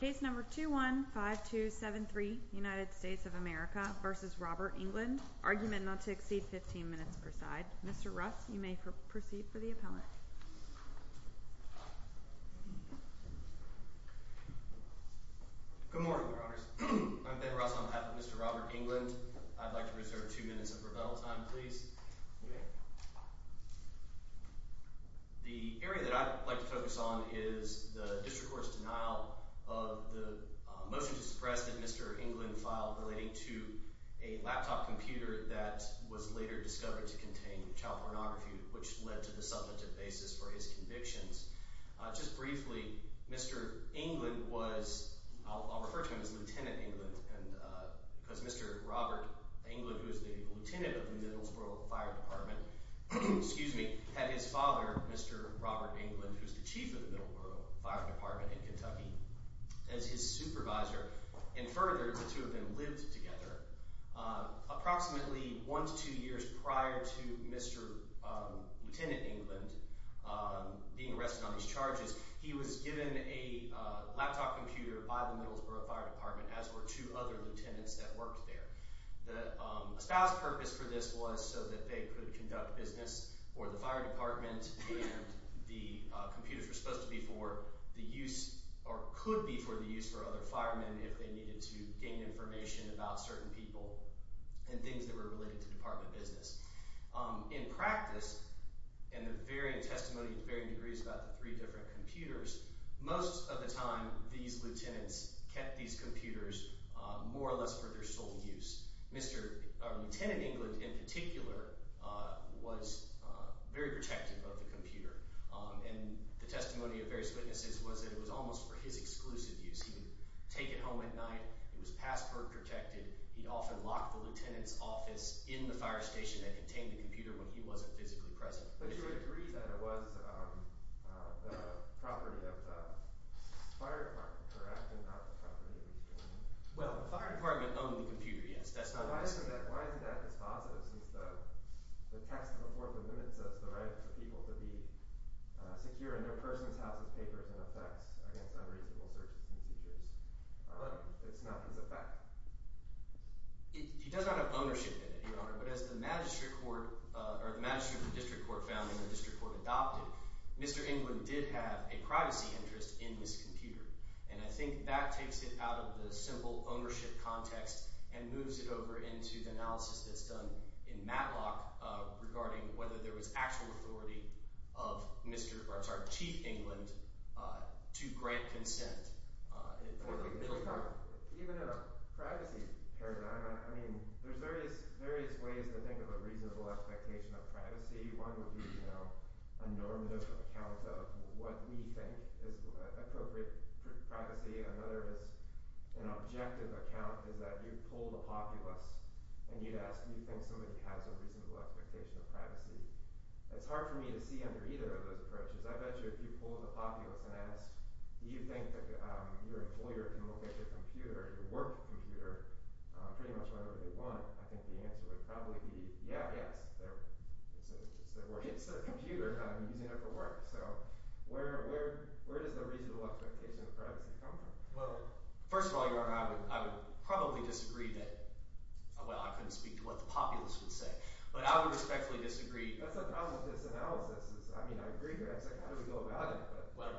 Case number 21-5273, United States of America v. Robert England, argument not to exceed 15 minutes per side. Mr. Russ, you may proceed for the appellate. Good morning, Your Honors. I'm Ben Russ on behalf of Mr. Robert England. I'd like to reserve two minutes of rebuttal time, please. The area that I'd like to focus on is the district court's denial of the motion to suppress that Mr. England filed relating to a laptop computer that was later discovered to contain child pornography, which led to the substantive basis for his convictions. Just briefly, Mr. England was, I'll refer to him as Lieutenant England, because Mr. Robert England, who was the lieutenant of the Middleborough Fire Department, had his father, Mr. Robert England, who was the chief of the Middleborough Fire Department in Kentucky, as his supervisor. And further, the two of them lived together. Approximately one to two years prior to Mr. Lieutenant England being arrested on these charges, he was given a laptop computer by the Middleborough Fire Department, as were two other lieutenants that worked there. A spouse purpose for this was so that they could conduct business for the fire department and the computers were supposed to be for the use or could be for the use for other firemen if they needed to gain information about certain people and things that were related to department business. In practice, and the varying testimony to varying degrees about the three different computers, most of the time these lieutenants kept these computers more or less for their sole use. Mr. – or Lieutenant England in particular was very protective of the computer, and the testimony of various witnesses was that it was almost for his exclusive use. He would take it home at night. It was passport protected. He'd often lock the lieutenant's office in the fire station that contained the computer when he wasn't physically present. But you would agree that it was the property of the fire department, correct, and not the property of each department? Well, the fire department owned the computer, yes. That's not his… Why isn't that as positive since the text of the Fourth Amendment says the right of the people to be secure in their persons, houses, papers, and effects against unreasonable searches and seizures? It's not his effect. He does not have ownership in it, Your Honor, but as the magistrate court – or the magistrate and the district court found and the district court adopted, Mr. England did have a privacy interest in this computer. And I think that takes it out of the simple ownership context and moves it over into the analysis that's done in Matlock regarding whether there was actual authority of Mr. – or I'm sorry, Chief England to grant consent. Even in a privacy paradigm, I mean, there's various ways to think of a reasonable expectation of privacy. One would be a normative account of what we think is appropriate privacy. Another is an objective account is that you pull the populace and you'd ask, do you think somebody has a reasonable expectation of privacy? That's hard for me to see under either of those approaches. I bet you if you pull the populace and ask, do you think that your employer can look at your computer, your work computer, pretty much whenever they want, I think the answer would probably be, yeah, yes. It's a computer. I'm using it for work. So where does the reasonable expectation of privacy come from? Well, first of all, Your Honor, I would probably disagree that – well, I couldn't speak to what the populace would say, but I would respectfully disagree. That's the problem with this analysis is, I mean, I agree here. I was like, how do we go about it? Well,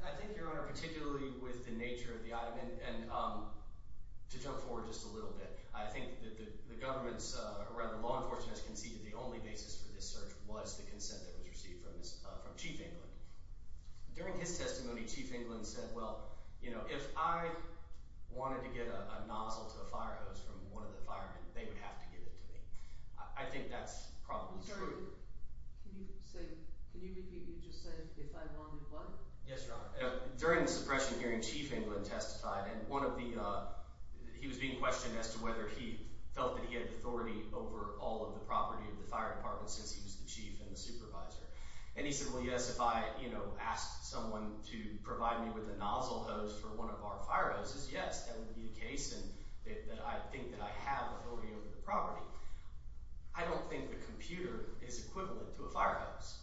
I think, Your Honor, particularly with the nature of the item, and to jump forward just a little bit, I think that the government's – or rather, law enforcement has conceded the only basis for this search was the consent that was received from Chief England. During his testimony, Chief England said, well, if I wanted to get a nozzle to a fire hose from one of the firemen, they would have to give it to me. I think that's probably true. Can you say – can you repeat what you just said, if I wanted what? Yes, Your Honor. During the suppression hearing, Chief England testified, and one of the – he was being questioned as to whether he felt that he had authority over all of the property of the fire department since he was the chief and the supervisor. And he said, well, yes, if I asked someone to provide me with a nozzle hose for one of our fire hoses, yes, that would be the case and that I think that I have authority over the property. I don't think the computer is equivalent to a fire hose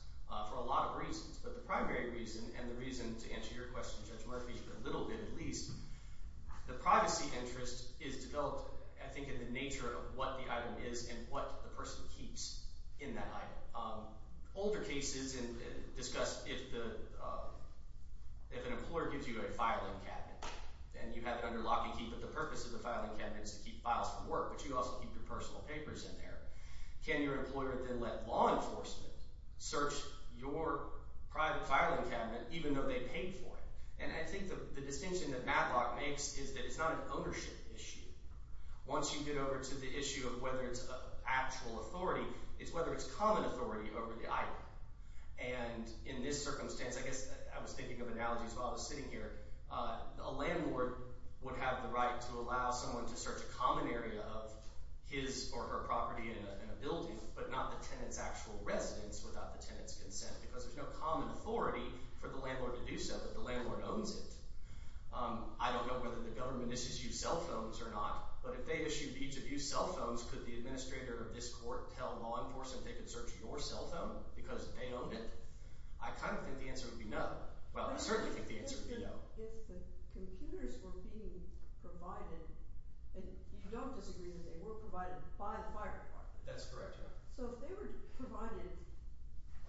for a lot of reasons, but the primary reason and the reason to answer your question, Judge Murphy, a little bit at least, the privacy interest is developed, I think, in the nature of what the item is and what the person keeps in that item. Older cases discuss if an employer gives you a filing cabinet and you have it under lock and key, but the purpose of the filing cabinet is to keep files from work, but you also keep your personal papers in there. Can your employer then let law enforcement search your private filing cabinet even though they paid for it? And I think the distinction that Matlock makes is that it's not an ownership issue. Once you get over to the issue of whether it's actual authority, it's whether it's common authority over the item. And in this circumstance, I guess I was thinking of analogies while I was sitting here. A landlord would have the right to allow someone to search a common area of his or her property in a building, but not the tenant's actual residence without the tenant's consent because there's no common authority for the landlord to do so, but the landlord owns it. I don't know whether the government issues you cell phones or not, but if they issued each of you cell phones, could the administrator of this court tell law enforcement they could search your cell phone because they own it? I kind of think the answer would be no. Well, I certainly think the answer would be no. If the computers were being provided, and you don't disagree that they were provided by the fire department. That's correct. So if they were provided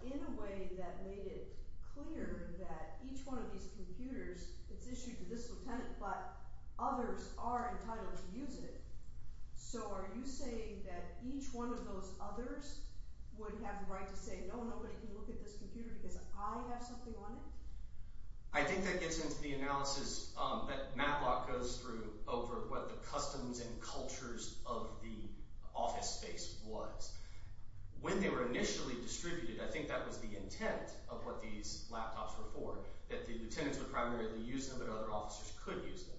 in a way that made it clear that each one of these computers, it's issued to this lieutenant, but others are entitled to use it. So are you saying that each one of those others would have the right to say, no, nobody can look at this computer because I have something on it? I think that gets into the analysis that Matlock goes through over what the customs and cultures of the office space was. When they were initially distributed, I think that was the intent of what these laptops were for, that the lieutenants would primarily use them, but other officers could use them.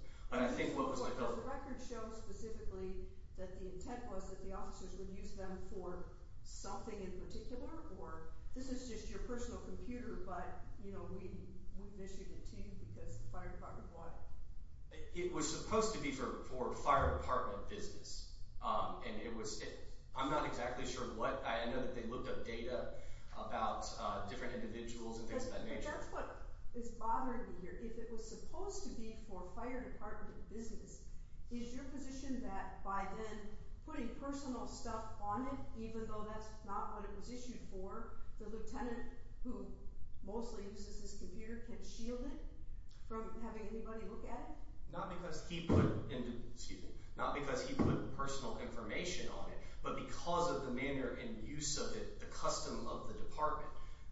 The records show specifically that the intent was that the officers would use them for something in particular, or this is just your personal computer, but we've issued it to you because the fire department bought it. It was supposed to be for fire department business, and I'm not exactly sure what. I know that they looked up data about different individuals and things of that nature. That's what is bothering me here. If it was supposed to be for fire department business, is your position that by then putting personal stuff on it, even though that's not what it was issued for, the lieutenant, who mostly uses this computer, can shield it from having anybody look at it? Not because he put personal information on it, but because of the manner and use of it, the custom of the department.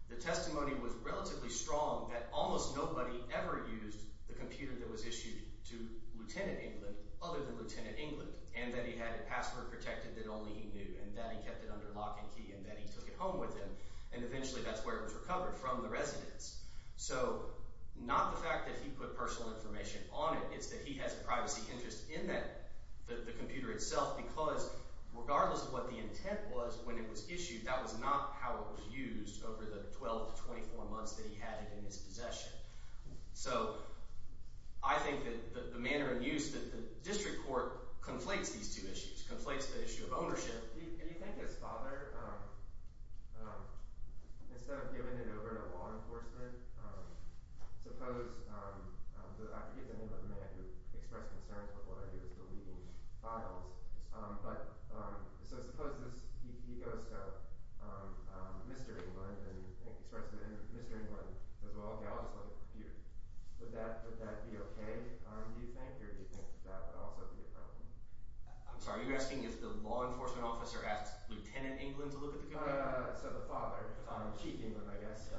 The testimony was relatively strong that almost nobody ever used the computer that was issued to Lieutenant England other than Lieutenant England, and that he had it password protected that only he knew, and that he kept it under lock and key, and that he took it home with him, and eventually that's where it was recovered, from the residence. So not the fact that he put personal information on it. It's that he has a privacy interest in that – the computer itself because regardless of what the intent was when it was issued, that was not how it was used over the 12 to 24 months that he had it in his possession. So I think that the manner of use that the district court conflates these two issues, conflates the issue of ownership. Do you think his father, instead of giving it over to law enforcement, suppose – I forget the name of the man who expressed concerns with what I do as deleting files – but so suppose he goes to Mr. England and expresses to Mr. England as well, okay, I'll just look at the computer. Would that be okay, do you think, or do you think that would also be a problem? I'm sorry, are you asking if the law enforcement officer asked Lieutenant England to look at the computer? So the father, Chief England, I guess.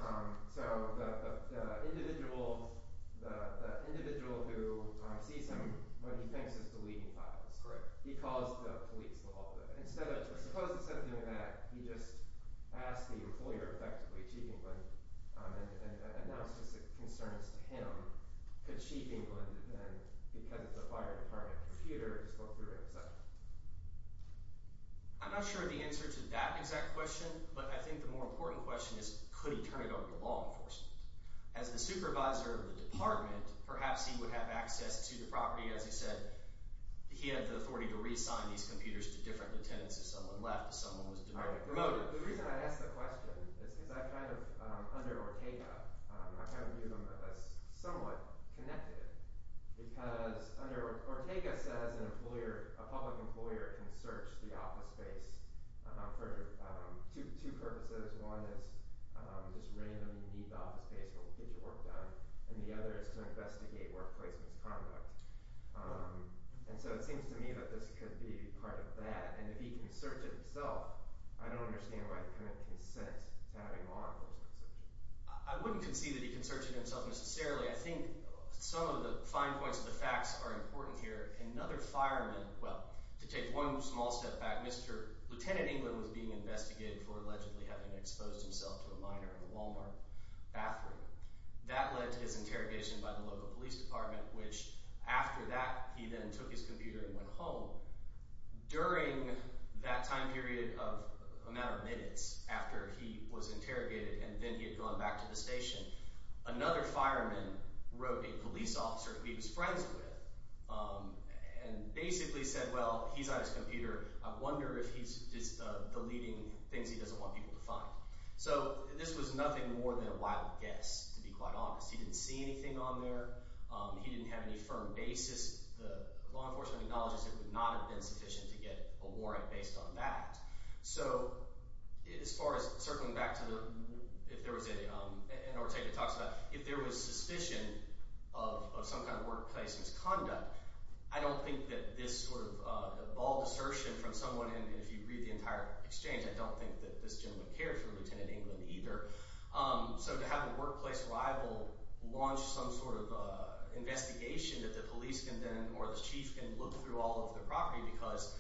So the individual who sees him when he thinks he's deleting files, he calls the police. Instead of – suppose it's something that he just asked the employer effectively, Chief England, and announced his concerns to him. Could Chief England then, because it's a fire department computer, just go through it and such? I'm not sure of the answer to that exact question, but I think the more important question is could he turn it over to law enforcement? As the supervisor of the department, perhaps he would have access to the property, as he said, he had the authority to reassign these computers to different lieutenants if someone left, if someone was demoted. The reason I ask the question is I kind of, under Ortega, I kind of view him as somewhat connected, because under – Ortega says an employer, a public employer can search the office space for two purposes. One is just randomly need the office space to get your work done, and the other is to investigate workplace misconduct. And so it seems to me that this could be part of that, and if he can search it himself, I don't understand why he couldn't consent to having law enforcement search it. I wouldn't concede that he can search it himself necessarily. I think some of the fine points of the facts are important here. Another fireman – well, to take one small step back, Mr. – Lieutenant England was being investigated for allegedly having exposed himself to a minor in a Walmart bathroom. That led to his interrogation by the local police department, which after that he then took his computer and went home. During that time period of a matter of minutes after he was interrogated and then he had gone back to the station, another fireman wrote a police officer who he was friends with and basically said, well, he's on his computer. I wonder if he's deleting things he doesn't want people to find. So this was nothing more than a wild guess, to be quite honest. He didn't see anything on there. He didn't have any firm basis. The law enforcement acknowledges it would not have been sufficient to get a warrant based on that. So as far as circling back to the – if there was a – and Ortega talks about if there was suspicion of some kind of workplace misconduct, I don't think that this sort of bald assertion from someone – and if you read the entire exchange, I don't think that this gentleman cared for Lieutenant England either. So to have a workplace rival launch some sort of investigation that the police can then – or the chief can look through all of the property because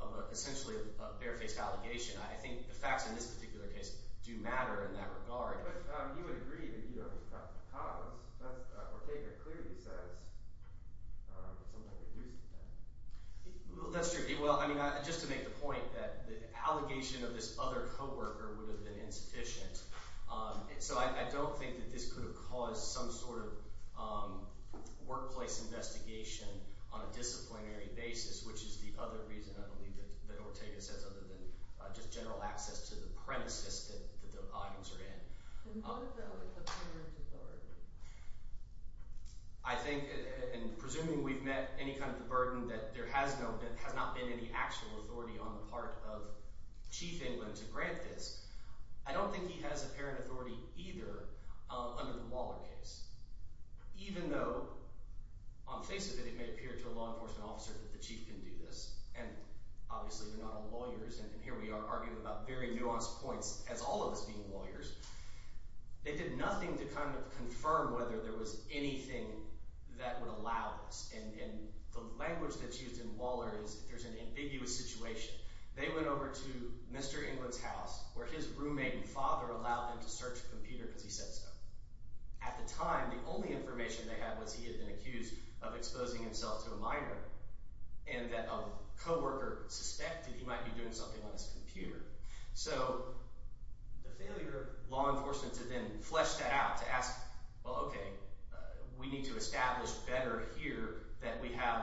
of essentially a barefaced allegation, I think the facts in this particular case do matter in that regard. But you would agree that you don't think that's the cause. Ortega clearly says it's something to do with that. That's true. Well, I mean just to make the point that the allegation of this other coworker would have been insufficient. So I don't think that this could have caused some sort of workplace investigation on a disciplinary basis, which is the other reason, I believe, that Ortega says other than just general access to the premises that the items are in. And what about the failure to guard? I think – and presuming we've met any kind of the burden that there has not been any actual authority on the part of Chief England to grant this, I don't think he has apparent authority either under the Waller case. Even though on the face of it, it may appear to a law enforcement officer that the chief can do this, and obviously we're not all lawyers, and here we are arguing about very nuanced points as all of us being lawyers. They did nothing to kind of confirm whether there was anything that would allow this. And the language that's used in Waller is if there's an ambiguous situation, they went over to Mr. England's house where his roommate and father allowed them to search the computer because he said so. At the time, the only information they had was he had been accused of exposing himself to a minor and that a coworker suspected he might be doing something on his computer. So the failure of law enforcement to then flesh that out, to ask, well, okay, we need to establish better here that we have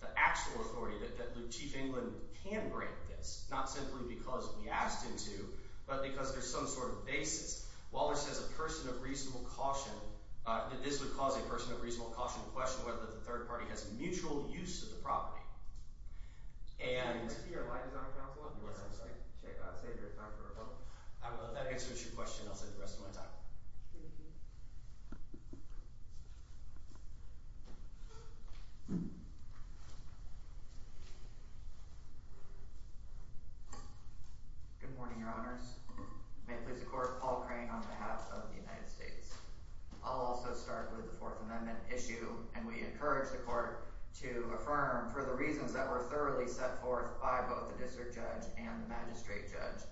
the actual authority, that Chief England can grant this, not simply because we asked him to but because there's some sort of basis. Waller says a person of reasonable caution – that this would cause a person of reasonable caution to question whether the third party has mutual use of the property. And… Can I see your line design counsel? Yes, I'm sorry. I'll save your time for a moment. That answers your question. I'll save the rest of my time. Thank you. Good morning, Your Honors. May it please the Court, Paul Crane on behalf of the United States. I'll also start with the Fourth Amendment issue, and we encourage the Court to affirm for the reasons that were thoroughly set forth by both the district judge and the magistrate judge.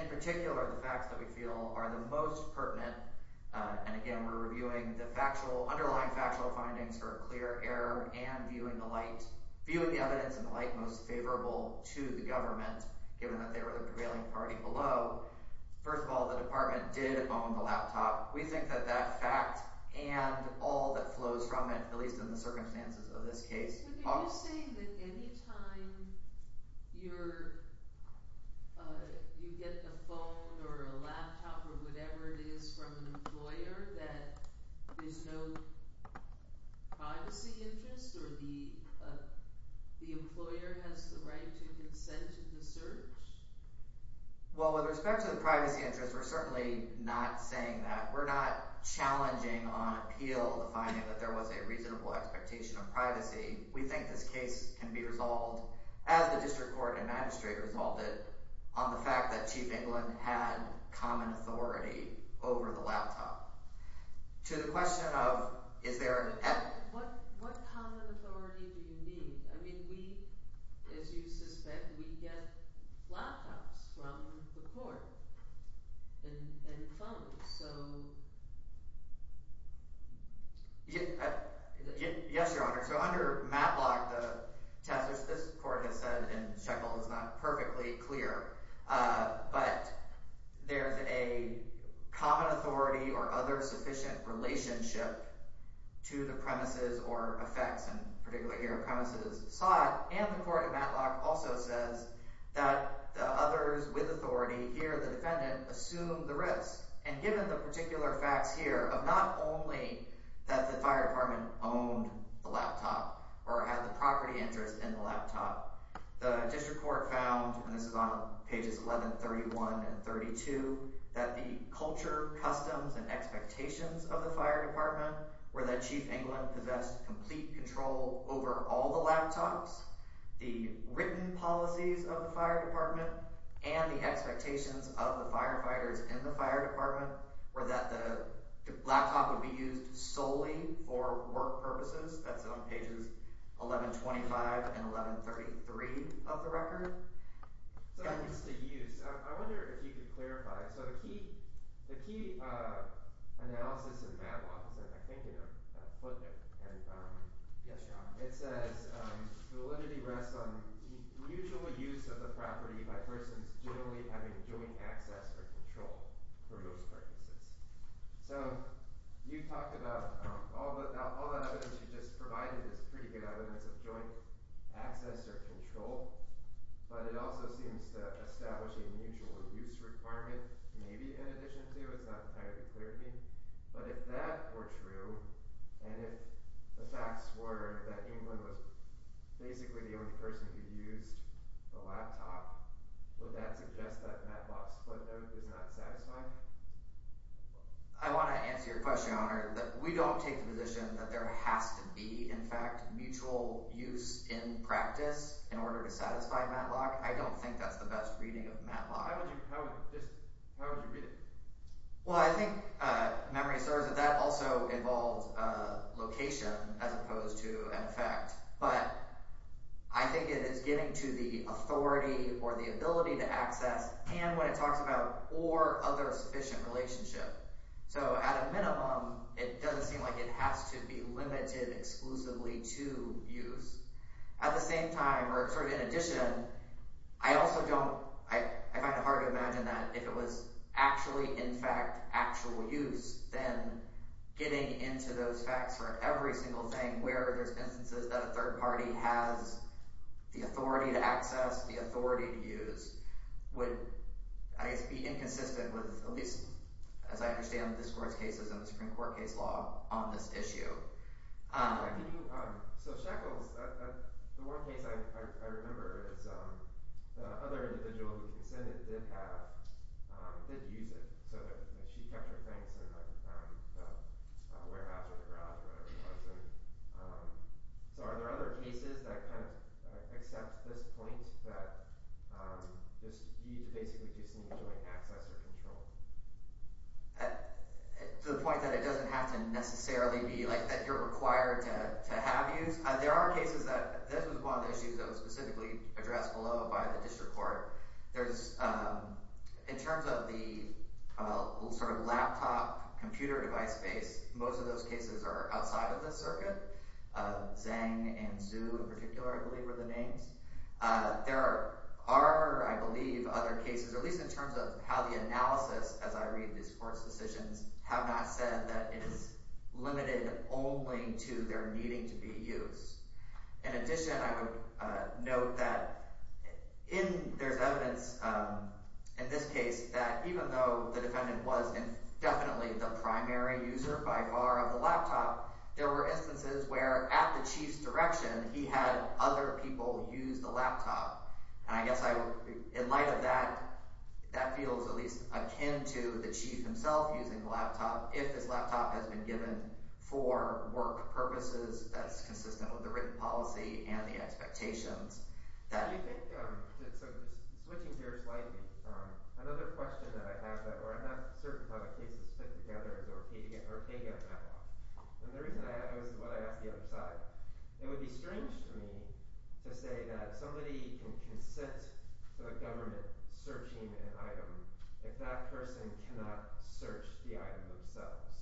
In particular, the facts that we feel are the most pertinent, and again, we're reviewing the factual – underlying factual findings for a clear error and viewing the light – viewing the evidence in the light most favorable to the government, given that they were the prevailing party below. First of all, the department did own the laptop. We think that that fact and all that flows from it, at least in the circumstances of this case… So are you saying that any time you're – you get a phone or a laptop or whatever it is from an employer that there's no privacy interest or the employer has the right to consent to the search? Well, with respect to the privacy interest, we're certainly not saying that. We're not challenging on appeal the finding that there was a reasonable expectation of privacy. We think this case can be resolved, as the district court and magistrate resolved it, on the fact that Chief England had common authority over the laptop. To the question of is there an – What common authority do you need? I mean we – as you suspect, we get laptops from the court and phones, so… Yes, Your Honor. So under Matlock, the test, which this court has said in Shekel is not perfectly clear, but there's a common authority or other sufficient relationship to the premises or effects, and particularly here, premises sought. And the court in Matlock also says that the others with authority, here the defendant, assumed the risk. And given the particular facts here of not only that the fire department owned the laptop or had the property interest in the laptop, the district court found – and this is on pages 1131 and 32 – that the culture, customs, and expectations of the fire department were that Chief England possessed complete control over all the laptops, the written policies of the fire department, and the expectations of the firefighters in the fire department. Or that the laptop would be used solely for work purposes. That's on pages 1125 and 1133 of the record. So what's the use? I wonder if you could clarify. So the key analysis in Matlock is, I think, in a footnote. Yes, Your Honor. It says validity rests on mutual use of the property by persons generally having joint access or control for those purposes. So you talked about all that evidence you just provided is pretty good evidence of joint access or control, but it also seems to establish a mutual use requirement, maybe, in addition to. It's not entirely clear to me. But if that were true, and if the facts were that England was basically the only person who used the laptop, would that suggest that Matlock's footnote is not satisfying? I want to answer your question, Your Honor. We don't take the position that there has to be, in fact, mutual use in practice in order to satisfy Matlock. I don't think that's the best reading of Matlock. How would you read it? Well, I think memory asserts that that also involves location as opposed to an effect. But I think it is getting to the authority or the ability to access, can when it talks about, or other sufficient relationship. So at a minimum, it doesn't seem like it has to be limited exclusively to use. At the same time, or sort of in addition, I also don't – I find it hard to imagine that if it was actually, in fact, actual use, then getting into those facts for every single thing where there's instances that a third party has the authority to access, the authority to use, would, I guess, be inconsistent with at least, as I understand the discourse cases in the Supreme Court case law on this issue. I mean, so Shekels – the one case I remember is the other individual who consented did have – did use it, so that she kept her things in the warehouse or the garage or whatever it was. So are there other cases that kind of accept this point that you basically just need joint access or control? To the point that it doesn't have to necessarily be like that you're required to have use? There are cases that – this was one of the issues that was specifically addressed below by the district court. There's – in terms of the sort of laptop computer device space, most of those cases are outside of this circuit. Zeng and Zhu in particular, I believe, were the names. There are, I believe, other cases, at least in terms of how the analysis, as I read these court's decisions, have not said that it is limited only to their needing to be used. In addition, I would note that in – there's evidence in this case that even though the defendant was definitely the primary user by far of the laptop, there were instances where, at the chief's direction, he had other people use the laptop. And I guess I would – in light of that, that feels at least akin to the chief himself using the laptop if this laptop has been given for work purposes that's consistent with the written policy and the expectations. I do think – so just switching gears slightly, another question that I have that – or I'm not certain how the cases fit together is Ortega's backlog. And the reason I – this is what I asked the other side. It would be strange for me to say that somebody can consent to the government searching an item if that person cannot search the item themselves.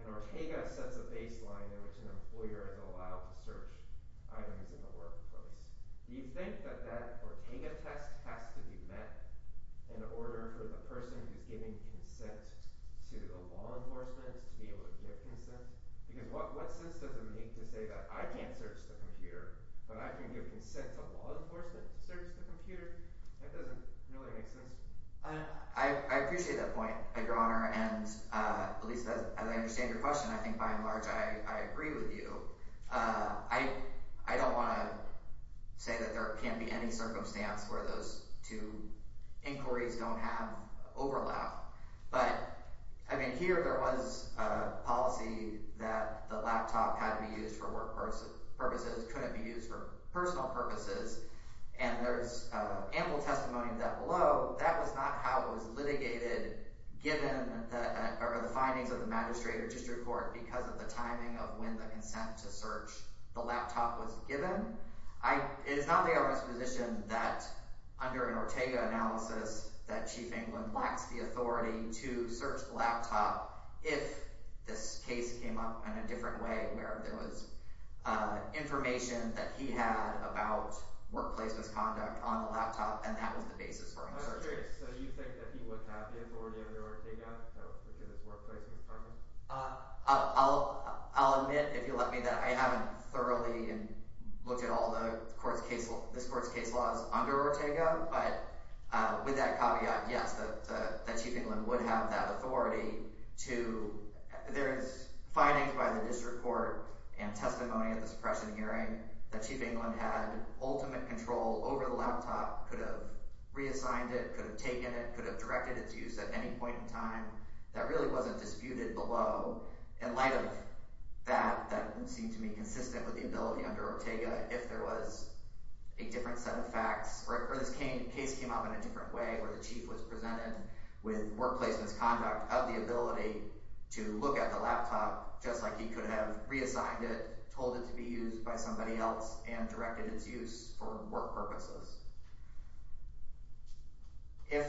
And Ortega sets a baseline in which an employer is allowed to search items in the workplace. Do you think that that Ortega test has to be met in order for the person who's giving consent to the law enforcement to be able to get consent? Because what sense does it make to say that I can't search the computer, but I can give consent to law enforcement to search the computer? That doesn't really make sense. I appreciate that point, Your Honor. And at least as I understand your question, I think by and large I agree with you. I don't want to say that there can't be any circumstance where those two inquiries don't have overlap. But, I mean, here there was a policy that the laptop had to be used for work purposes, couldn't be used for personal purposes. And there's ample testimony of that below. That was not how it was litigated given the findings of the magistrate or district court because of the timing of when the consent to search the laptop was given. It is not my own exposition that under an Ortega analysis that Chief England lacks the authority to search the laptop if this case came up in a different way, where there was information that he had about workplace misconduct on the laptop, and that was the basis for him searching. So you think that he would have the authority under Ortega to look at his workplace misconduct? I'll admit, if you'll let me, that I haven't thoroughly looked at all this court's case laws under Ortega. But with that caveat, yes, that Chief England would have that authority to – there is findings by the district court and testimony at the suppression hearing that Chief England had ultimate control over the laptop, could have reassigned it, could have taken it, could have directed its use at any point in time. That really wasn't disputed below. In light of that, that would seem to me consistent with the ability under Ortega if there was a different set of facts or if this case came up in a different way, where the chief was presented with workplace misconduct of the ability to look at the laptop just like he could have reassigned it, told it to be used by somebody else, and directed its use for work purposes. If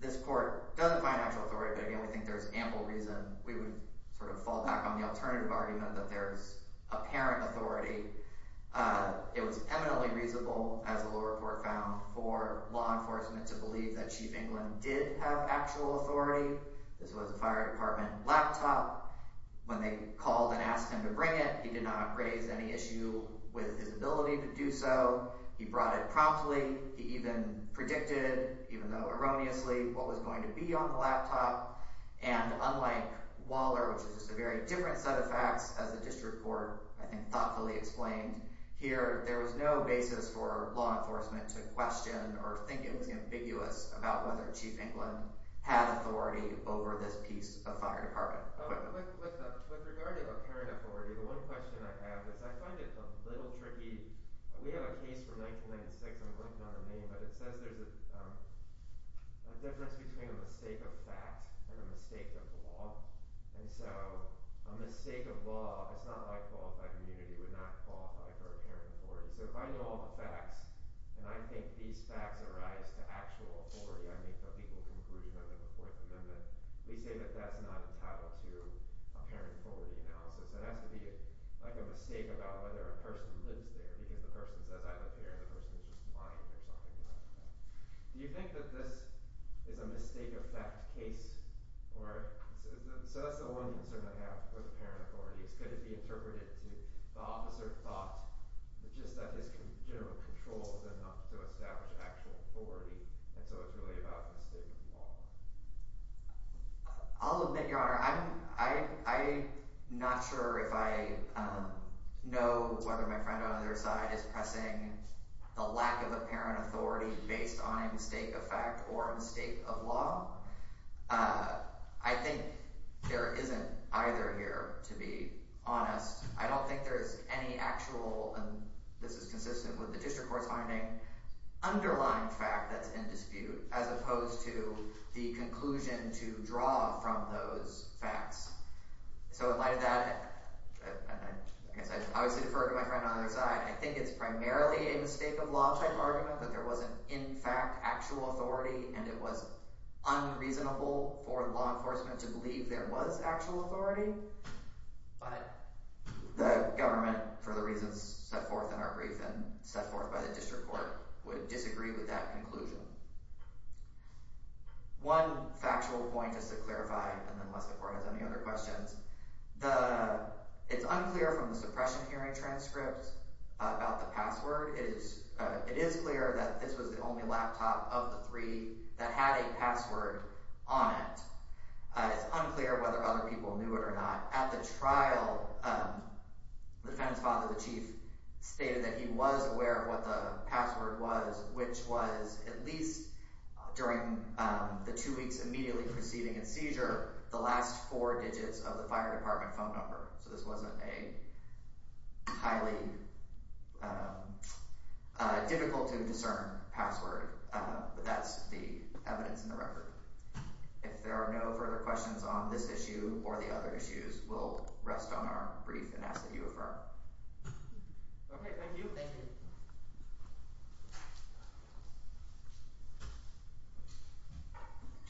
this court doesn't find actual authority, but again, we think there's ample reason, we would sort of fall back on the alternative argument that there's apparent authority. It was eminently reasonable, as the little report found, for law enforcement to believe that Chief England did have actual authority. This was a fire department laptop. When they called and asked him to bring it, he did not raise any issue with his ability to do so. He brought it promptly. He even predicted, even though erroneously, what was going to be on the laptop. And unlike Waller, which is just a very different set of facts, as the district court, I think, thoughtfully explained here, there was no basis for law enforcement to question or think it was ambiguous about whether Chief England had authority over this piece of fire department equipment. With regard to apparent authority, the one question I have is I find it a little tricky. We have a case from 1996. I'm clicking on the name, but it says there's a difference between a mistake of fact and a mistake of law. And so a mistake of law, if it's not high qualified immunity, would not qualify for apparent authority. So if I know all the facts, and I think these facts arise to actual authority, I make the legal conclusion under the Fourth Amendment, we say that that's not entitled to apparent authority analysis. It has to be like a mistake about whether a person lives there because the person says I live here and the person is just lying or something like that. Do you think that this is a mistake of fact case? So that's the one concern I have with apparent authority is could it be interpreted to the officer thought just that his general control is enough to establish actual authority, and so it's really about a mistake of law. I'll admit, Your Honor, I'm not sure if I know whether my friend on the other side is pressing the lack of apparent authority based on a mistake of fact or a mistake of law. I think there isn't either here, to be honest. I don't think there is any actual, and this is consistent with the district court's finding, underlying fact that's in dispute as opposed to the conclusion to draw from those facts. So in light of that, I guess I should obviously defer to my friend on the other side. I think it's primarily a mistake of law type argument that there wasn't in fact actual authority, and it was unreasonable for law enforcement to believe there was actual authority. But the government, for the reasons set forth in our brief and set forth by the district court, would disagree with that conclusion. One factual point just to clarify, and then the court has any other questions. It's unclear from the suppression hearing transcript about the password. It is clear that this was the only laptop of the three that had a password on it. It's unclear whether other people knew it or not. At the trial, the defendant's father, the chief, stated that he was aware of what the password was, which was at least during the two weeks immediately preceding his seizure, the last four digits of the fire department phone number. So this wasn't a highly difficult-to-discern password, but that's the evidence in the record. If there are no further questions on this issue or the other issues, we'll rest on our brief and ask that you affirm. Okay, thank you. Thank you.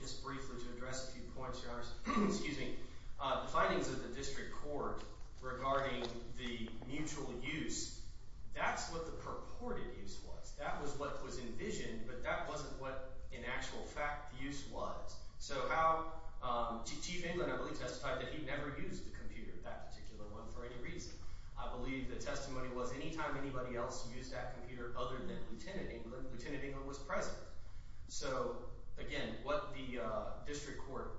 Just briefly to address a few points, your Honor. Excuse me. The findings of the district court regarding the mutual use, that's what the purported use was. That was what was envisioned, but that wasn't what, in actual fact, the use was. So how – Chief England, I believe, testified that he never used the computer, that particular one, for any reason. I believe the testimony was anytime anybody else used that computer other than Lieutenant England, Lieutenant England was present. So again, what the district court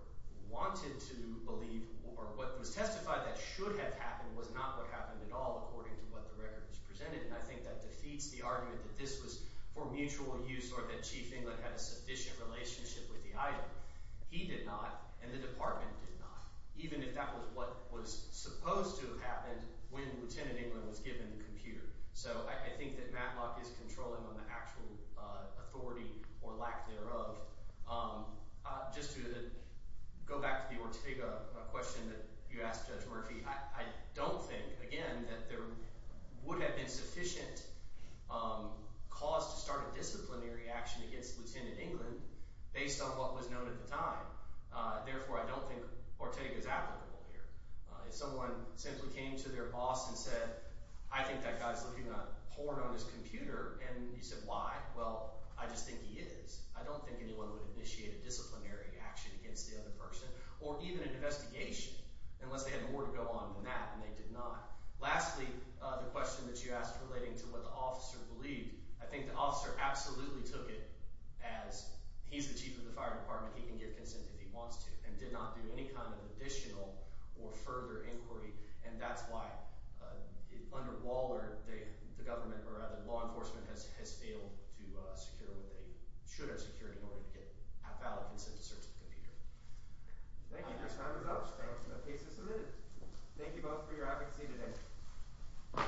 wanted to believe or what was testified that should have happened was not what happened at all, according to what the record has presented, and I think that defeats the argument that this was for mutual use or that Chief England had a sufficient relationship with the item. He did not, and the department did not, even if that was what was supposed to have happened when Lieutenant England was given the computer. So I think that Matlock is controlling on the actual authority or lack thereof. Just to go back to the Ortega question that you asked Judge Murphy, I don't think, again, that there would have been sufficient cause to start a disciplinary action against Lieutenant England based on what was known at the time. Therefore, I don't think Ortega is applicable here. If someone simply came to their boss and said, I think that guy is looking at porn on his computer, and you said, why? Well, I just think he is. I don't think anyone would initiate a disciplinary action against the other person or even an investigation unless they had more to go on than that, and they did not. Lastly, the question that you asked relating to what the officer believed, I think the officer absolutely took it as he's the chief of the fire department. He can give consent if he wants to and did not do any kind of additional or further inquiry, and that's why under Waller, the government, or rather law enforcement, has failed to secure what they should have secured in order to get valid consent to search the computer. Thank you. Time is up. The case is submitted. Thank you both for your advocacy today.